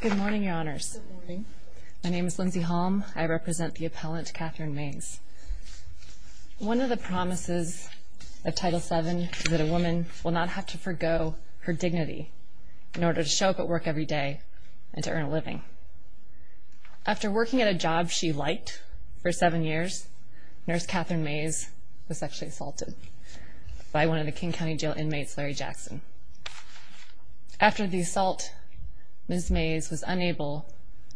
Good morning, your honors. My name is Lindsay Holm. I represent the appellant Catherine Mays. One of the promises of Title VII is that a woman will not have to forgo her dignity in order to show up at work every day and to earn a living. After working at a job she liked for seven years, nurse Catherine Mays was sexually assaulted by one of the King County jail inmates, Larry Jackson. After the assault, Ms. Mays was unable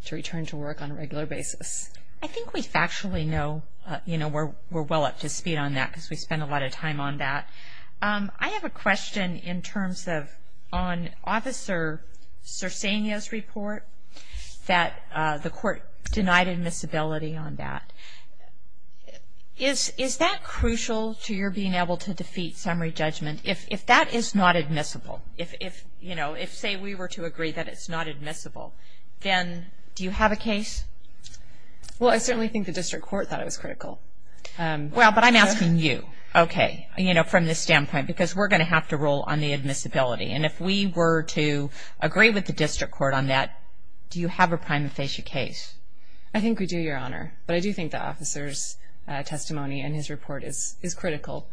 to return to work on a regular basis. I think we factually know, you know, we're well up to speed on that because we spend a lot of time on that. I have a question in terms of on Officer Cirsania's report that the court denied admissibility on that. Is that crucial to your being able to defeat summary judgment? If that is not admissible, if, you know, if say we were to agree that it's not admissible, then do you have a case? Well, I certainly think the district court thought it was critical. Well, but I'm asking you, okay, you know, from this standpoint because we're going to have to rule on the admissibility and if we were to agree with the district court on that, do you have a prima facie case? I think we do, Your Honor, but I do think the officer's testimony and his report is critical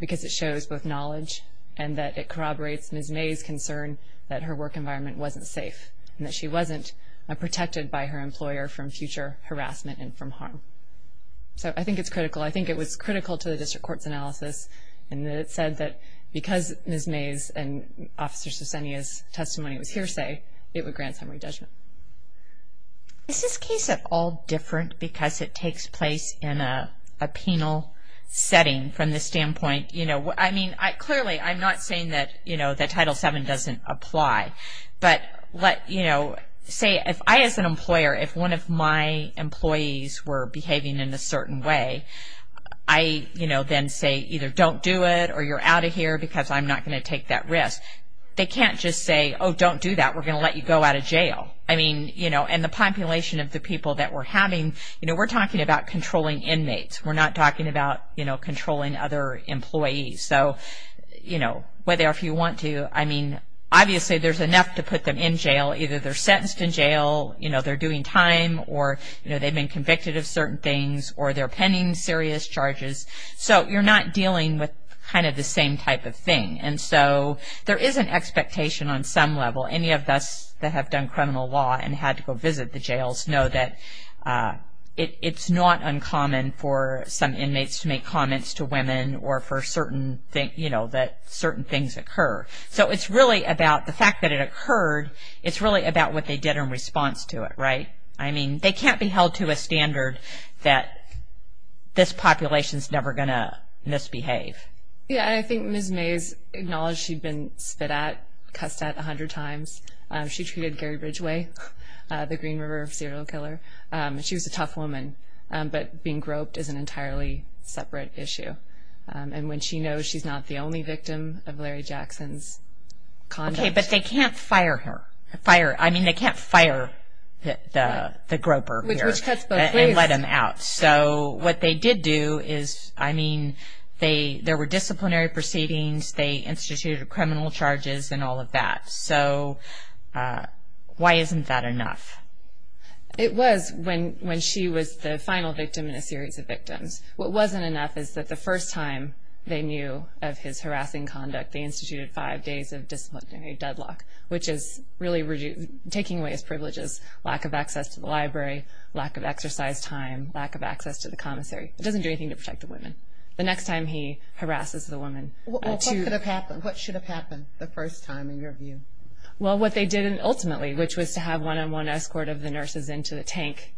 because it shows both knowledge and that it corroborates Ms. Mays' concern that her work environment wasn't safe and that she wasn't protected by her employer from future harassment and from harm. So, I think it's critical. I think it was critical to the district court's analysis and that it said that because Ms. Mays and Officer Cirsania's testimony was hearsay, it would grant summary judgment. Is this case at all different because it takes place in a penal setting from the standpoint, you know, I mean, clearly I'm not saying that, you know, that Title VII doesn't apply, but let, you know, say if I as an employer, if one of my employees were behaving in a certain way, I, you know, then say either don't do it or you're out of here because I'm not going to take that risk. They can't just say, oh, don't do that. We're going to let you go out of jail. I mean, you know, and the population of the people that we're having, you know, we're talking about controlling inmates. We're not talking about, you know, controlling other employees. So, you know, whether or if you want to, I mean, obviously there's enough to put them in jail. Either they're sentenced in jail, you know, they're doing time or, you know, they've been convicted of certain things or they're pending serious charges. So, you're not dealing with kind of the same type of thing. And so, there is an expectation on some level, any of us that have done criminal law and had to go visit the jails know that it's not uncommon for some inmates to make comments to women or for certain things, you know, that certain things occur. So, it's really about the fact that it occurred. It's really about what they did in response to it, right? I mean, they can't be held to a standard that this population is never going to misbehave. Yeah, I think Ms. Mays acknowledged she'd been spit at, cussed at 100 times. She treated Gary Bridgeway, the Green River serial killer. She was a tough woman, but being groped is an entirely separate issue. And when she knows she's not the only victim of Larry Jackson's conduct. Okay, but they can't fire her, fire, I mean, they can't fire the groper and let him out. So, what they did do is, I mean, there were disciplinary proceedings, they instituted criminal charges and all of that. So, why isn't that enough? It was when she was the final victim in a series of victims. What wasn't enough is that the first time they knew of his harassing conduct, they instituted five days of disciplinary deadlock, which is really taking away his lack of access to the commissary. It doesn't do anything to protect the women. The next time he harasses the woman. What could have happened? What should have happened the first time, in your view? Well, what they did ultimately, which was to have one-on-one escort of the nurses into the tank,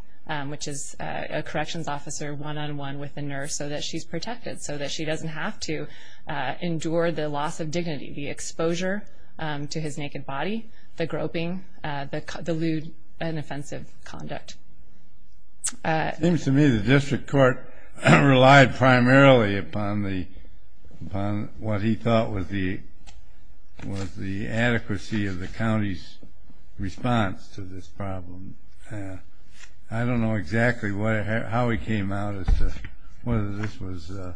which is a corrections officer, one-on-one with the nurse so that she's protected, so that she doesn't have to endure the loss of dignity, the exposure to his naked body, the groping, the lewd and offensive conduct. It seems to me the district court relied primarily upon what he thought was the adequacy of the county's response to this problem. I don't know exactly how he came out as to whether this was an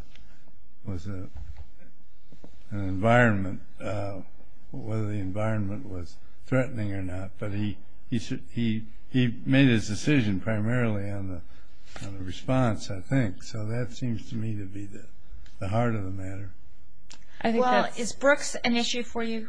environment, whether the environment was threatening or not, but he made his decision primarily on the response, I think. So that seems to me to be the heart of the matter. Is Brooks an issue for you?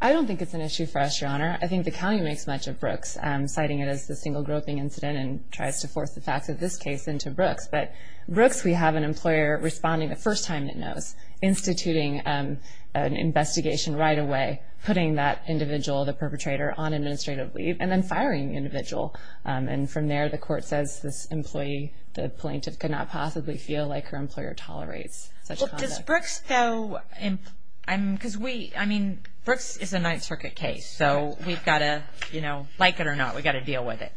I don't think it's an issue for us, Your Honor. I think the county makes much of Brooks, citing it as the single groping incident and tries to force the facts of this case into Brooks. But Brooks, we have an employer responding the first time it knows, instituting an investigation right away, putting that individual, the perpetrator, on administrative leave, and then firing the individual. And from there, the court says this employee, the plaintiff, could not possibly feel like her employer tolerates such conduct. Does Brooks, though, because we, I mean, Brooks is a Ninth Circuit case, so we've got to, you know, like it or not, we've got to deal with it.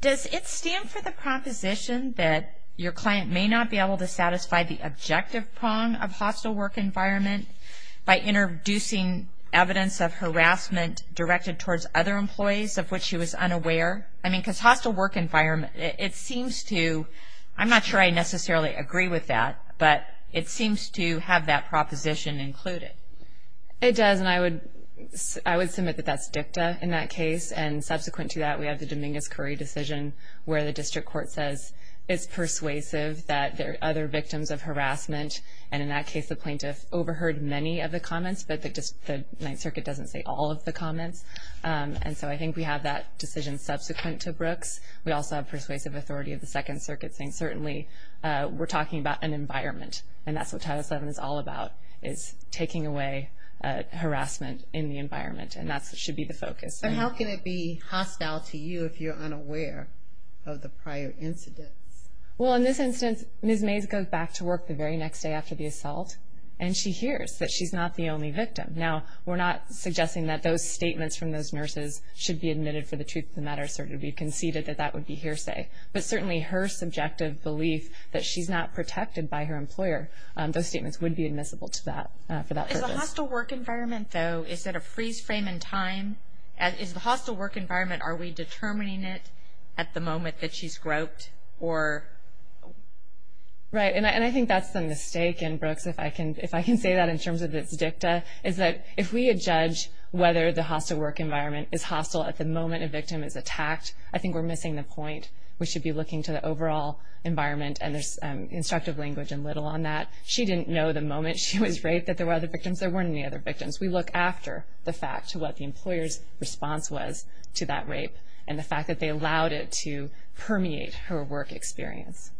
Does it stand for the proposition that your client may not be able to satisfy the objective prong of hostile work environment by introducing evidence of harassment directed towards other employees of which she was unaware? I mean, because hostile work environment, it seems to, I'm not sure I necessarily agree with that, but it seems to have that proposition included. It does, and I would submit that that's dicta in that case, and subsequent to that, we have the Dominguez-Curry decision, where the district court says it's persuasive that there are other victims of harassment, and in that case, the plaintiff overheard many of the comments, but the Ninth Circuit doesn't say all of the comments. And so I think we have that decision subsequent to Brooks. We also have persuasive authority of the Second Circuit saying certainly we're talking about an environment, and that's what Title VII is all about, is taking away harassment in the environment, and that should be the focus. But how can it be hostile to you if you're unaware of the prior incidents? Well, in this instance, Ms. Mays goes back to work the very next day after the assault, and she hears that she's not the only victim. Now, we're not suggesting that those statements from those nurses should be admitted for the truth of the matter, certainly we've conceded that that would be hearsay, but her subjective belief that she's not protected by her employer, those statements would be admissible to that, for that purpose. Is the hostile work environment, though, is it a freeze frame in time? Is the hostile work environment, are we determining it at the moment that she's groped, or? Right, and I think that's the mistake in Brooks, if I can say that in terms of its dicta, is that if we had judged whether the hostile work environment is hostile at the moment a victim is attacked, I think we're missing the point. We should be looking to the overall environment, and there's instructive language and little on that. She didn't know the moment she was raped that there were other victims, there weren't any other victims. We look after the fact to what the employer's response was to that rape, and the fact that they allowed it to permeate her work experience.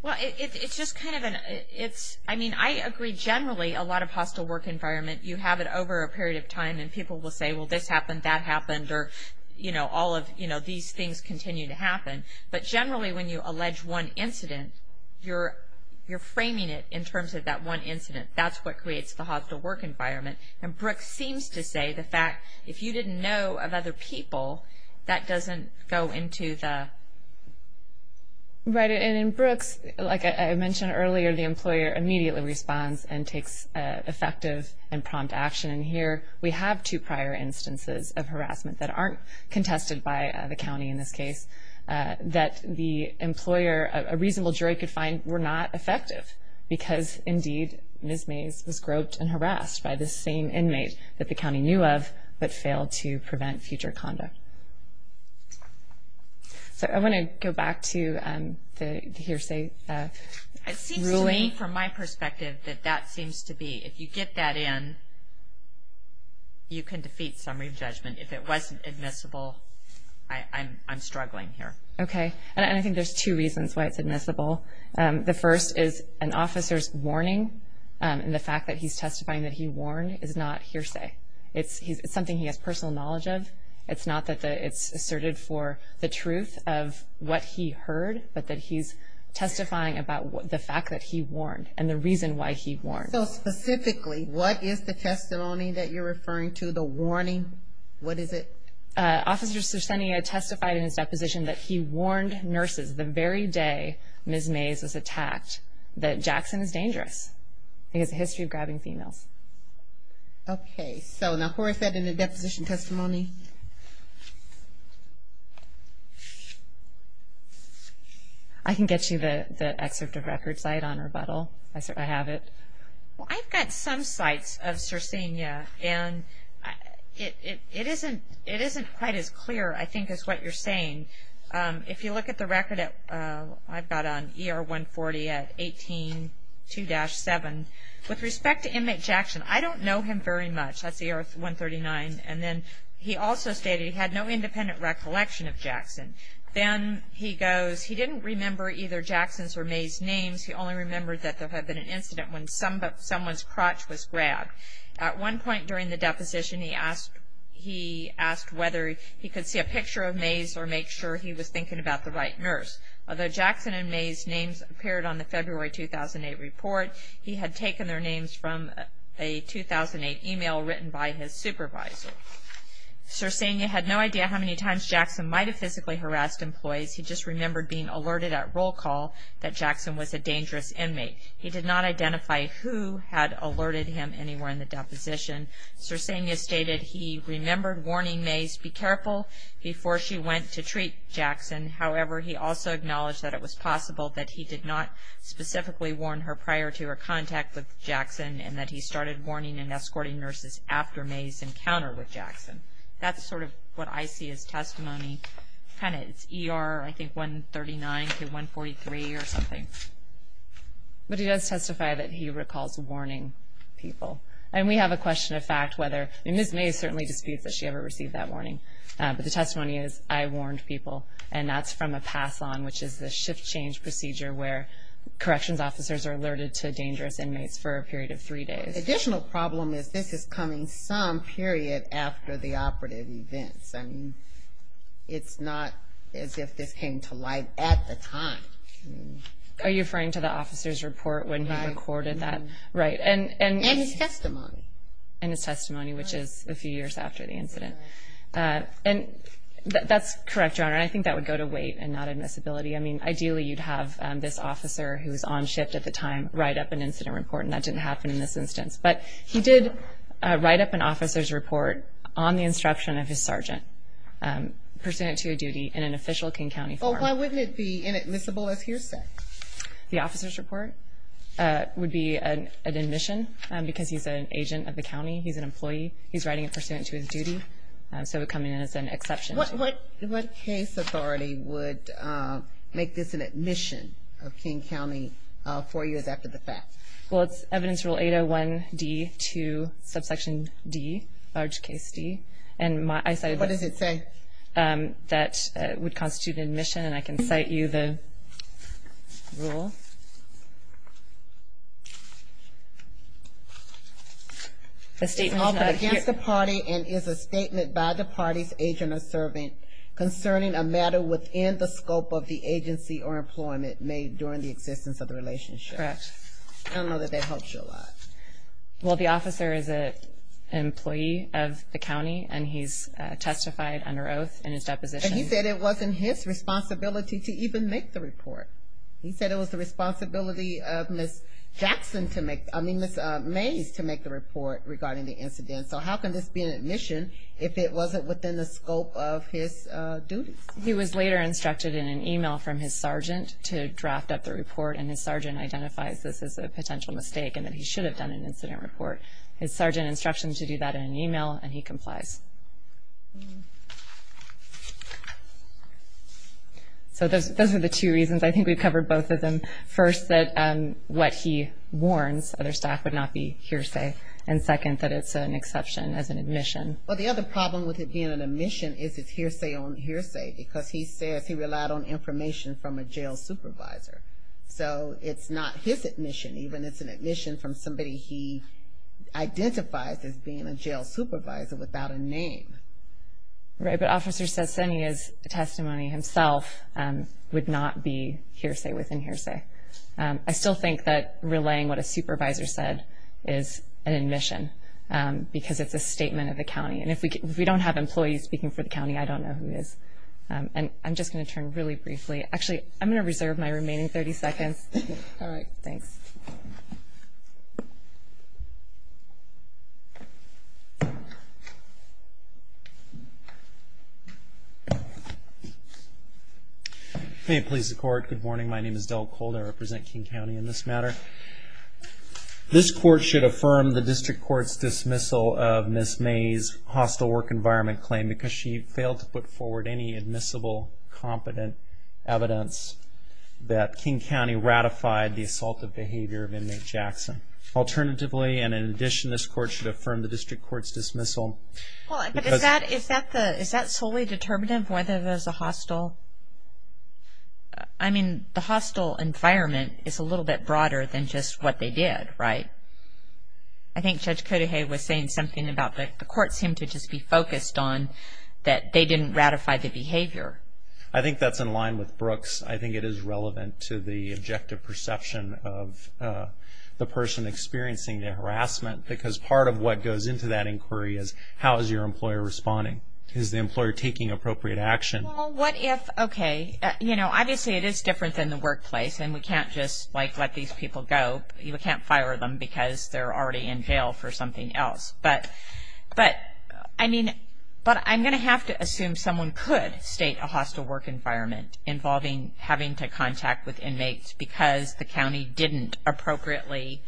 Well, it's just kind of an, it's, I mean, I agree generally a lot of hostile work environment, you have it over a period of time, and people will say, well, this happened, that happened, or, you know, all of, you know, these things continue to happen, but generally when you allege one incident, you're framing it in terms of that one incident. That's what creates the hostile work environment, and Brooks seems to say the fact, if you didn't know of other people, that doesn't go into the... Right, and in Brooks, like I mentioned earlier, the employer immediately responds and takes effective and prompt action, and here we have two prior instances of harassment that aren't contested by the county in this case, that the employer, a reasonable jury could find were not effective, because indeed Ms. Mays was groped and harassed by the same inmate that the county knew of, but failed to prevent future conduct. So I want to go back to the hearsay ruling. It seems to me, from my perspective, that that seems to be, if you get that in, you can defeat summary judgment. If it wasn't admissible, I'm struggling here. Okay, and I think there's two reasons why it's admissible. The first is an officer's warning, and the fact that he's testifying that he warned, is not hearsay. It's something he has personal knowledge of. It's not that it's asserted for the truth of what he heard, but that he's testifying about the fact that he warned, and the reason why he warned. So specifically, what is the testimony that you're referring to, the warning? What is it? Officer Cessenia testified in his deposition that he warned nurses the very day Ms. Mays was attacked, that Jackson is dangerous. He has a history of grabbing females. Okay, so now who is that in the deposition testimony? I can get you the excerpt of record site on rebuttal. I have it. Well, I've got some sites of Cessenia, and it isn't quite as clear, I think, as what you're saying. If you look at the record, I've got on ER 140 at 18-2-7. With respect to inmate Jackson, I don't know him very much. That's ER 139, and then he's a very, very, very, very, very, very, he also stated he had no independent recollection of Jackson. Then he goes, he didn't remember either Jackson's or Mays' names. He only remembered that there had been an incident when someone's crotch was grabbed. At one point during the deposition, he asked whether he could see a picture of Mays or make sure he was thinking about the right nurse. Although Jackson and Mays' names appeared on the February 2008 report, he had taken their names from a 2008 email written by his supervisor. Cessenia had no idea how many times Jackson might have physically harassed employees. He just remembered being alerted at roll call that Jackson was a dangerous inmate. He did not identify who had alerted him anywhere in the deposition. Cessenia stated he remembered warning Mays be careful before she went to treat Jackson. However, he also acknowledged that it was possible that he did not specifically warn her prior to her contact with Jackson and that he started escorting nurses after Mays' encounter with Jackson. That's sort of what I see as testimony. It's ER, I think, 139 to 143 or something. But he does testify that he recalls warning people. And we have a question of fact whether, Ms. Mays certainly disputes that she ever received that warning, but the testimony is, I warned people. And that's from a pass-on, which is the shift change procedure where corrections officers are alerted to dangerous inmates for a period of three days. The additional problem is this is coming some period after the operative events. I mean, it's not as if this came to light at the time. Are you referring to the officer's report when he recorded that? Right. And his testimony. And his testimony, which is a few years after the incident. And that's correct, Your Honor. I think that would go to wait and not admissibility. I mean, ideally you'd have this officer who was on shift at the time write up an incident report, and that didn't happen in this instance. But he did write up an officer's report on the instruction of his sergeant, pursuant to a duty in an official King County farm. Well, why wouldn't it be inadmissible, as you're saying? The officer's report would be an admission because he's an agent of the county. He's an employee. He's writing it pursuant to his duty. So it would come in as an exception. What case authority would make this an admission of King County four years after the fact? Well, it's Evidence Rule 801D2, subsection D, large case D. What does it say? That would constitute an admission. And I can cite you the rule. It's offered against the party and is a statement by the party's agent or servant concerning a matter within the scope of the agency or employment made during the existence of the relationship. I don't know that that helps you a lot. Well, the officer is an employee of the county, and he's testified under oath in his deposition. And he said it wasn't his responsibility to even make the report. He said it was the responsibility of Ms. Jackson to make, I mean, Ms. Mays to make the report regarding the incident. So how can this be an admission if it wasn't within the scope of his duties? He was later instructed in an email from his sergeant to draft up the report, and his sergeant identifies this as a potential mistake and that he should have done an incident report. His sergeant instructed him to do that in an email, and he complies. So those are the two reasons. I think we've covered both of them. First, that what he warns other staff would not be hearsay. And second, that it's an exception as an admission. Well, the other problem with it being an admission is it's hearsay on hearsay, because he says he relied on information from a jail supervisor. So it's not his admission, even. It's an admission from somebody he identifies as being a jail supervisor without a name. Right, but Officer Sassenia's testimony himself would not be hearsay within hearsay. I still think that relaying what a supervisor said is an admission, because it's a statement of the county. And if we don't have employees speaking for the county, I don't know who is. And I'm just going to turn really briefly. Actually, I'm going to reserve my remaining 30 seconds. All right. Thanks. May it please the Court. Good morning. My name is Del Colder. I represent King County in this matter. This Court should affirm the District Court's dismissal of Ms. May's hostile work environment claim, because she failed to put forward any admissible, competent evidence that King County ratified the assaultive behavior of inmate Jackson. Alternatively, and in addition, this Court should affirm the District Court's dismissal. Is that solely determinative, whether there's a hostile? I mean, the hostile environment is a little bit broader than just what they did, right? I think Judge Kodahe was saying something about the Court seemed to just be focused on that they didn't ratify the behavior. I think that's in line with Brooks. I think it is relevant to the objective perception of the person experiencing the harassment, because part of what goes into that inquiry is, how is your employer responding? Is the employer taking appropriate action? Well, what if, okay, you know, obviously it is different than the workplace, and we can't just, they're already in jail for something else. But I'm going to have to assume someone could state a hostile work environment involving having to contact with inmates because the county didn't appropriately,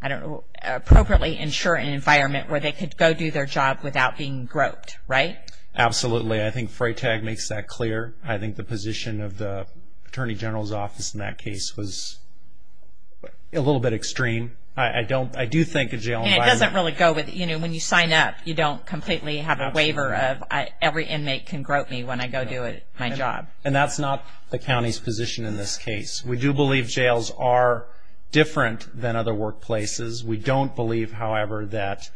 I don't know, appropriately ensure an environment where they could go do their job without being groped, right? Absolutely. I think Freytag makes that clear. I think the position of the Attorney General's case was a little bit extreme. I do think a jail environment... And it doesn't really go with, you know, when you sign up, you don't completely have a waiver of every inmate can grope me when I go do my job. And that's not the county's position in this case. We do believe jails are different than other workplaces. We don't believe, however, that,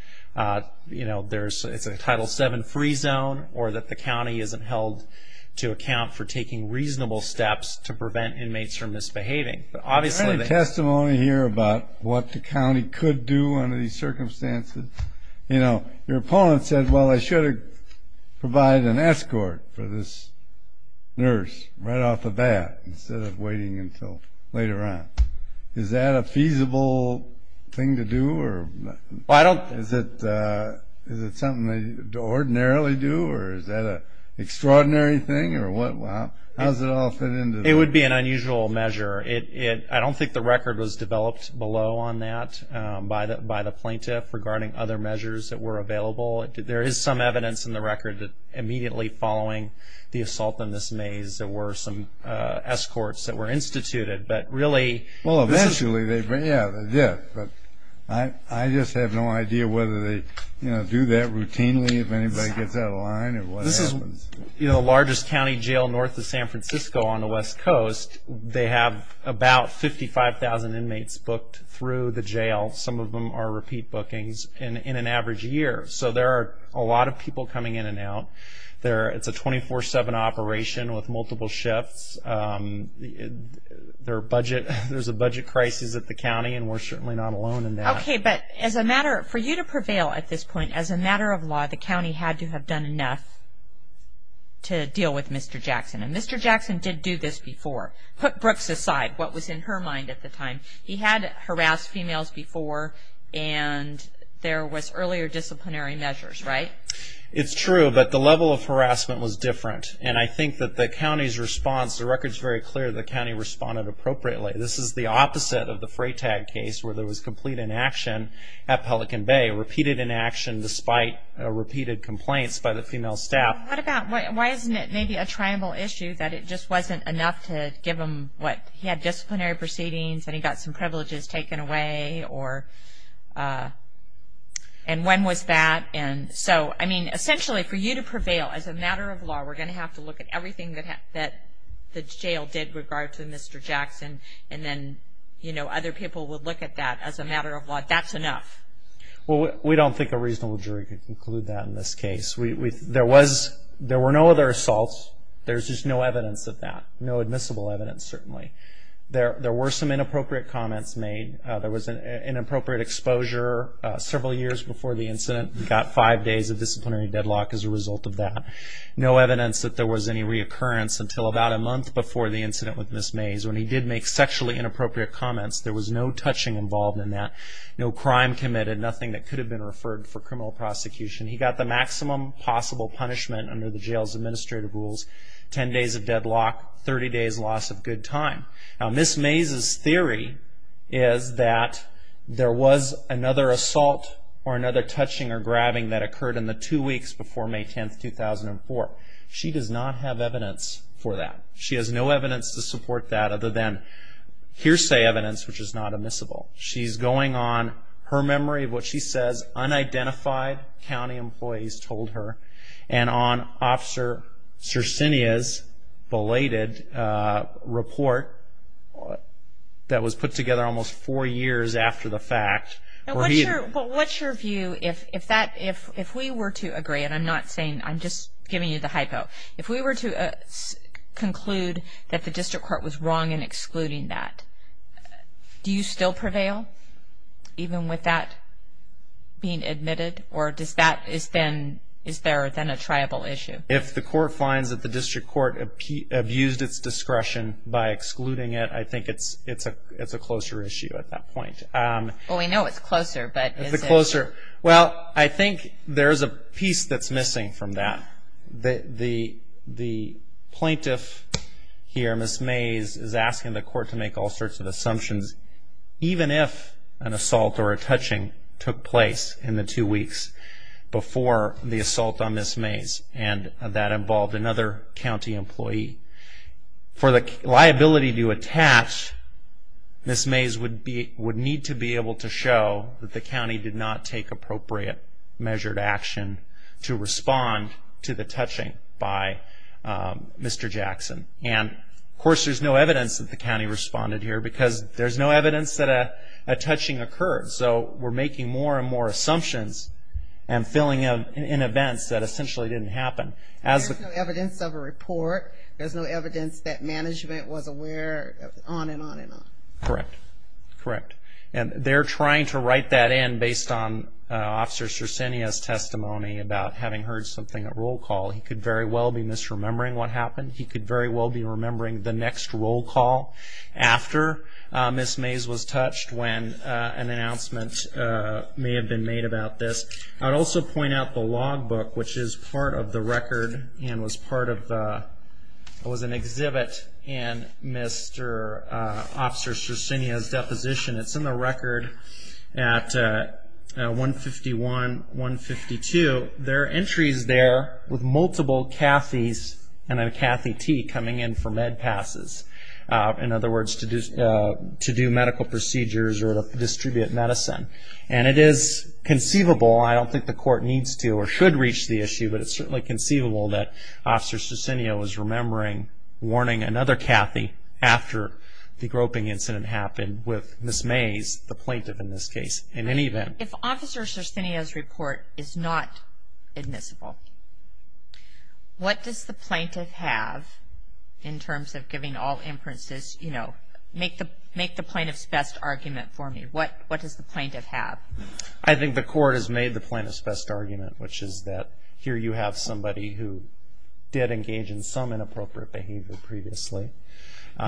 you know, it's a Title VII free zone, or that the county isn't held to account for taking reasonable steps to prevent inmates from misbehaving. But obviously... Is there any testimony here about what the county could do under these circumstances? You know, your opponent said, well, I should have provided an escort for this nurse right off the bat instead of waiting until later on. Is that a feasible thing to do? Well, I don't... Is it something they ordinarily do? Or is that an extraordinary thing? Or what? How does it all fit into that? It would be an unusual measure. I don't think the record was developed below on that by the plaintiff regarding other measures that were available. There is some evidence in the record that immediately following the assault in this maze, there were some escorts that were instituted. But really... Well, eventually they did. But I just have no idea whether they, you know, do that routinely if anybody gets out of line or what happens. You know, the largest county jail north of San Francisco on the west coast, they have about 55,000 inmates booked through the jail. Some of them are repeat bookings in an average year. So there are a lot of people coming in and out. It's a 24-7 operation with multiple shifts. There's a budget crisis at the county, and we're certainly not alone in that. Okay. But as a matter... For you to prevail at this point, as a matter of law, the county had to have done enough to deal with Mr. Jackson. And Mr. Jackson did do this before. Put Brooks aside, what was in her mind at the time. He had harassed females before, and there was earlier disciplinary measures, right? It's true, but the level of harassment was different. And I think that the county's response, the record's very clear, the county responded appropriately. This is the opposite of the complaints by the female staff. What about... Why isn't it maybe a tribal issue that it just wasn't enough to give him what... He had disciplinary proceedings, and he got some privileges taken away, or... And when was that? And so, I mean, essentially, for you to prevail as a matter of law, we're going to have to look at everything that the jail did with regard to Mr. Jackson. And then, you know, other people would look at that as a matter of law. That's enough. Well, we don't think a reasonable jury could conclude that in this case. There were no other assaults. There's just no evidence of that. No admissible evidence, certainly. There were some inappropriate comments made. There was an inappropriate exposure several years before the incident. He got five days of disciplinary deadlock as a result of that. No evidence that there was any reoccurrence until about a month before the incident with Ms. Mays when he did make sexually inappropriate comments. There was no touching involved in that. No crime committed, nothing that could have been referred for criminal prosecution. He got the maximum possible punishment under the jail's administrative rules, 10 days of deadlock, 30 days loss of good time. Now, Ms. Mays' theory is that there was another assault or another touching or grabbing that occurred in the two weeks before May 10th, 2004. She does not have evidence for that. She has no evidence to support that other than hearsay evidence, which is not on her memory of what she says unidentified county employees told her and on Officer Circinia's belated report that was put together almost four years after the fact. What's your view if we were to agree, and I'm not saying, I'm just giving you the hypo, if we were to conclude that the district court was wrong in excluding that, do you still prevail? Even with that being admitted, or is there then a triable issue? If the court finds that the district court abused its discretion by excluding it, I think it's a closer issue at that point. Well, we know it's closer, but is it? Well, I think there's a piece that's missing from that. The plaintiff here, Ms. Mays, is asking the court to make all sorts of assumptions, even if an assault or a touching took place in the two weeks before the assault on Ms. Mays, and that involved another county employee. For the liability to attach, Ms. Mays would need to be able to show that the county did not take appropriate measured action to respond to the touching by Mr. Jackson. And, of course, there's no evidence that the county responded here, because there's no evidence that a touching occurred. So we're making more and more assumptions and filling in events that essentially didn't happen. There's no evidence of a report. There's no evidence that management was aware, on and on and on. Correct. Correct. And they're trying to write that in based on Officer Circinia's testimony about having heard something at roll call. He could very well be remembering what happened. He could very well be remembering the next roll call after Ms. Mays was touched when an announcement may have been made about this. I'd also point out the log book, which is part of the record and was an exhibit in Mr. Officer Circinia's deposition. It's in the Cathy T. coming in for med passes. In other words, to do medical procedures or to distribute medicine. And it is conceivable, I don't think the court needs to or should reach the issue, but it's certainly conceivable that Officer Circinia was remembering, warning another Cathy after the groping incident happened with Ms. Mays, the plaintiff in this case, in any event. If Officer Circinia's report is not admissible, what does the plaintiff have in terms of giving all inferences? You know, make the plaintiff's best argument for me. What does the plaintiff have? I think the court has made the plaintiff's best argument, which is that here you have somebody who did engage in some inappropriate behavior previously.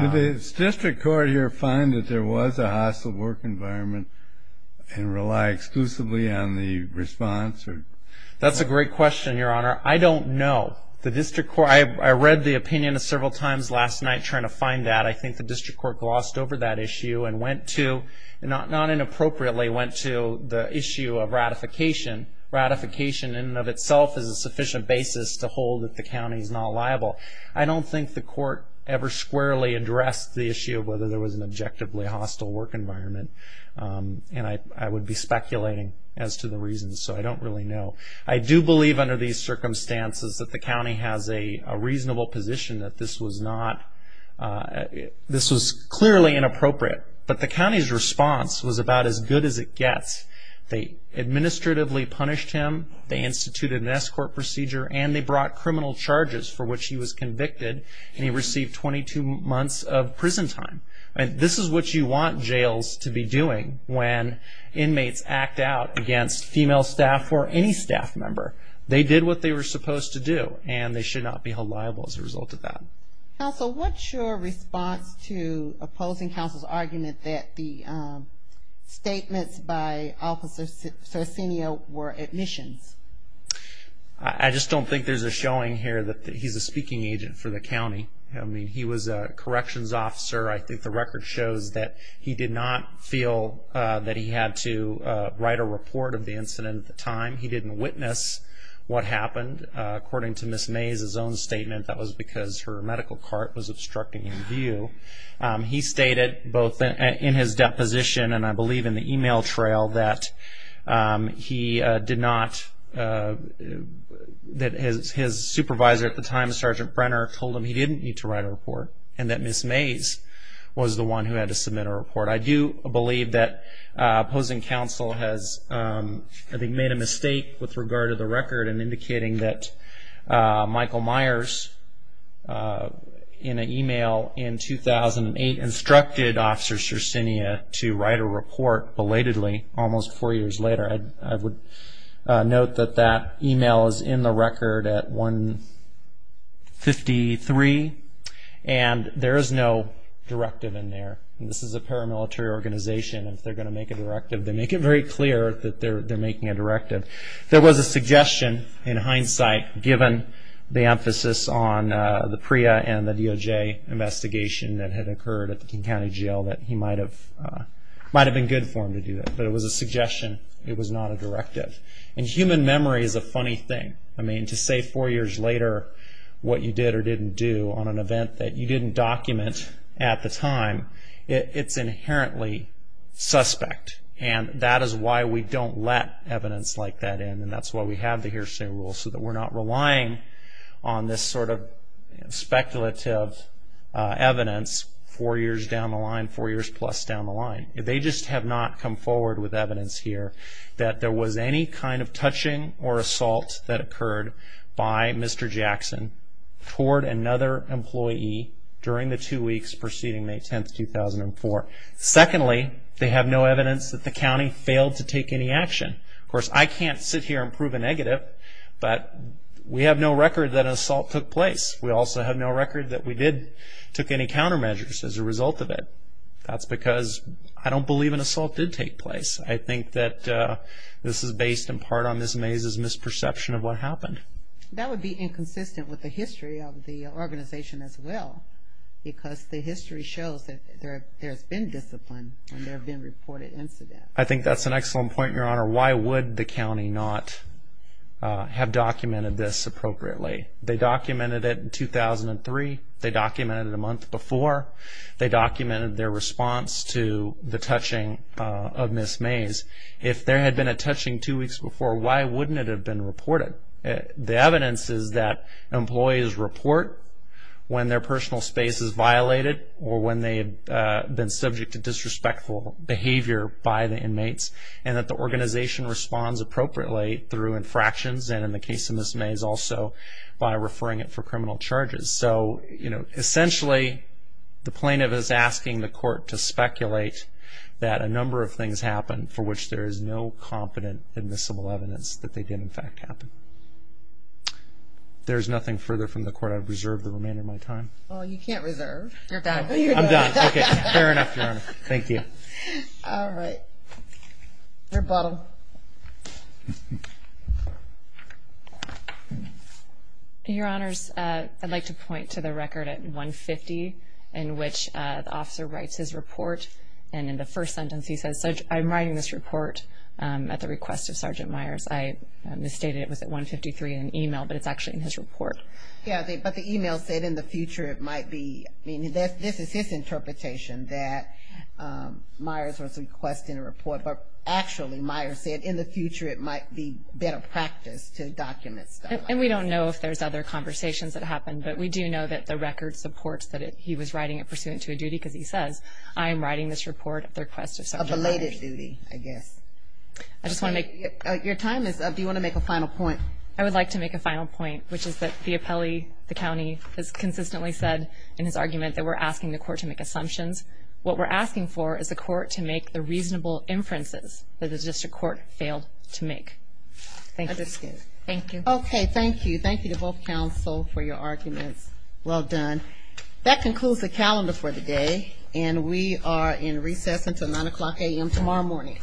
Did the district court here that there was a hostile work environment and rely exclusively on the response? That's a great question, Your Honor. I don't know. I read the opinion several times last night trying to find that. I think the district court glossed over that issue and went to, not inappropriately, went to the issue of ratification. Ratification in and of itself is a sufficient basis to hold that the county is not liable. I don't think the court ever squarely addressed the issue of whether there was an objectively hostile work environment. And I would be speculating as to the reasons. So I don't really know. I do believe under these circumstances that the county has a reasonable position that this was not, this was clearly inappropriate. But the county's response was about as good as it gets. They administratively punished him, they instituted an escort procedure, and they brought criminal charges for which he was convicted. And he received 22 months of prison time. This is what you want jails to be doing when inmates act out against female staff or any staff member. They did what they were supposed to do, and they should not be held liable as a result of that. Counsel, what's your response to opposing counsel's argument that the statements by Officer Circinio were admissions? I just don't think there's a showing here that he's a speaking agent for the county. I mean, he was a corrections officer. I think the record shows that he did not feel that he had to write a report of the incident at the time. He didn't witness what happened. According to Ms. Mays' own statement, that was because her medical cart was obstructing in view. He stated both in his deposition and I did not, that his supervisor at the time, Sgt. Brenner, told him he didn't need to write a report, and that Ms. Mays was the one who had to submit a report. I do believe that opposing counsel has, I think, made a mistake with regard to the record in indicating that Michael Myers, in an email in 2008, instructed Officer Circinio to write a report belatedly almost four years later. I would note that that email is in the record at 153, and there is no directive in there. This is a paramilitary organization. If they're going to make a directive, they make it very clear that they're making a directive. There was a suggestion, in hindsight, given the emphasis on the PREA and the DOJ investigation that had occurred at the King County Jail, that he might have been good for them to do that, but it was a suggestion. It was not a directive. Human memory is a funny thing. To say four years later what you did or didn't do on an event that you didn't document at the time, it's inherently suspect, and that is why we don't let evidence like that in, and that's why we have the hearsay rule, so that we're not relying on this sort of down the line. They just have not come forward with evidence here that there was any kind of touching or assault that occurred by Mr. Jackson toward another employee during the two weeks preceding May 10, 2004. Secondly, they have no evidence that the county failed to take any action. Of course, I can't sit here and prove a negative, but we have no record that an assault took place. We also have no record that we did take any countermeasures as a result of it. That's because I don't believe an assault did take place. I think that this is based in part on this maze's misperception of what happened. That would be inconsistent with the history of the organization as well, because the history shows that there's been discipline when there have been reported incidents. I think that's an excellent point, Your Honor. Why would the county not have documented this appropriately? They documented it in 2003. They documented it a month before. They documented their response to the touching of Ms. Mays. If there had been a touching two weeks before, why wouldn't it have been reported? The evidence is that employees report when their personal space is violated or when they've been subject to disrespectful behavior by the inmates, and that organization responds appropriately through infractions and, in the case of Ms. Mays, also by referring it for criminal charges. Essentially, the plaintiff is asking the court to speculate that a number of things happened for which there is no competent admissible evidence that they did in fact happen. There's nothing further from the court. I've reserved the remainder of my time. Well, you can't reserve. You're done. I'm done. Okay. Fair enough, Your Honor. Thank you. All right. Rebuttal. Your Honors, I'd like to point to the record at 150 in which the officer writes his report, and in the first sentence he says, I'm writing this report at the request of Sergeant Myers. I misstated it. It was at 153 in an email, but it's actually in his report. Yeah, but the email said in the future it might be. I mean, this is his interpretation that Myers was requesting a report, but actually Myers said in the future it might be better practice to document stuff like that. And we don't know if there's other conversations that happened, but we do know that the record supports that he was writing it pursuant to a duty, because he says, I am writing this report at the request of Sergeant Myers. A belated duty, I guess. I just want to make. Your time is up. Do you want to make a final point? I would like to make a final point, which is that the appellee, the county, has consistently said in his argument that we're asking the court to make assumptions. What we're asking for is the court to make the reasonable inferences that the district court failed to make. Thank you. I disagree. Thank you. Okay. Thank you. Thank you to both counsel for your arguments. Well done. That concludes the calendar for the day, and we are in recess until 9 o'clock a.m. tomorrow morning.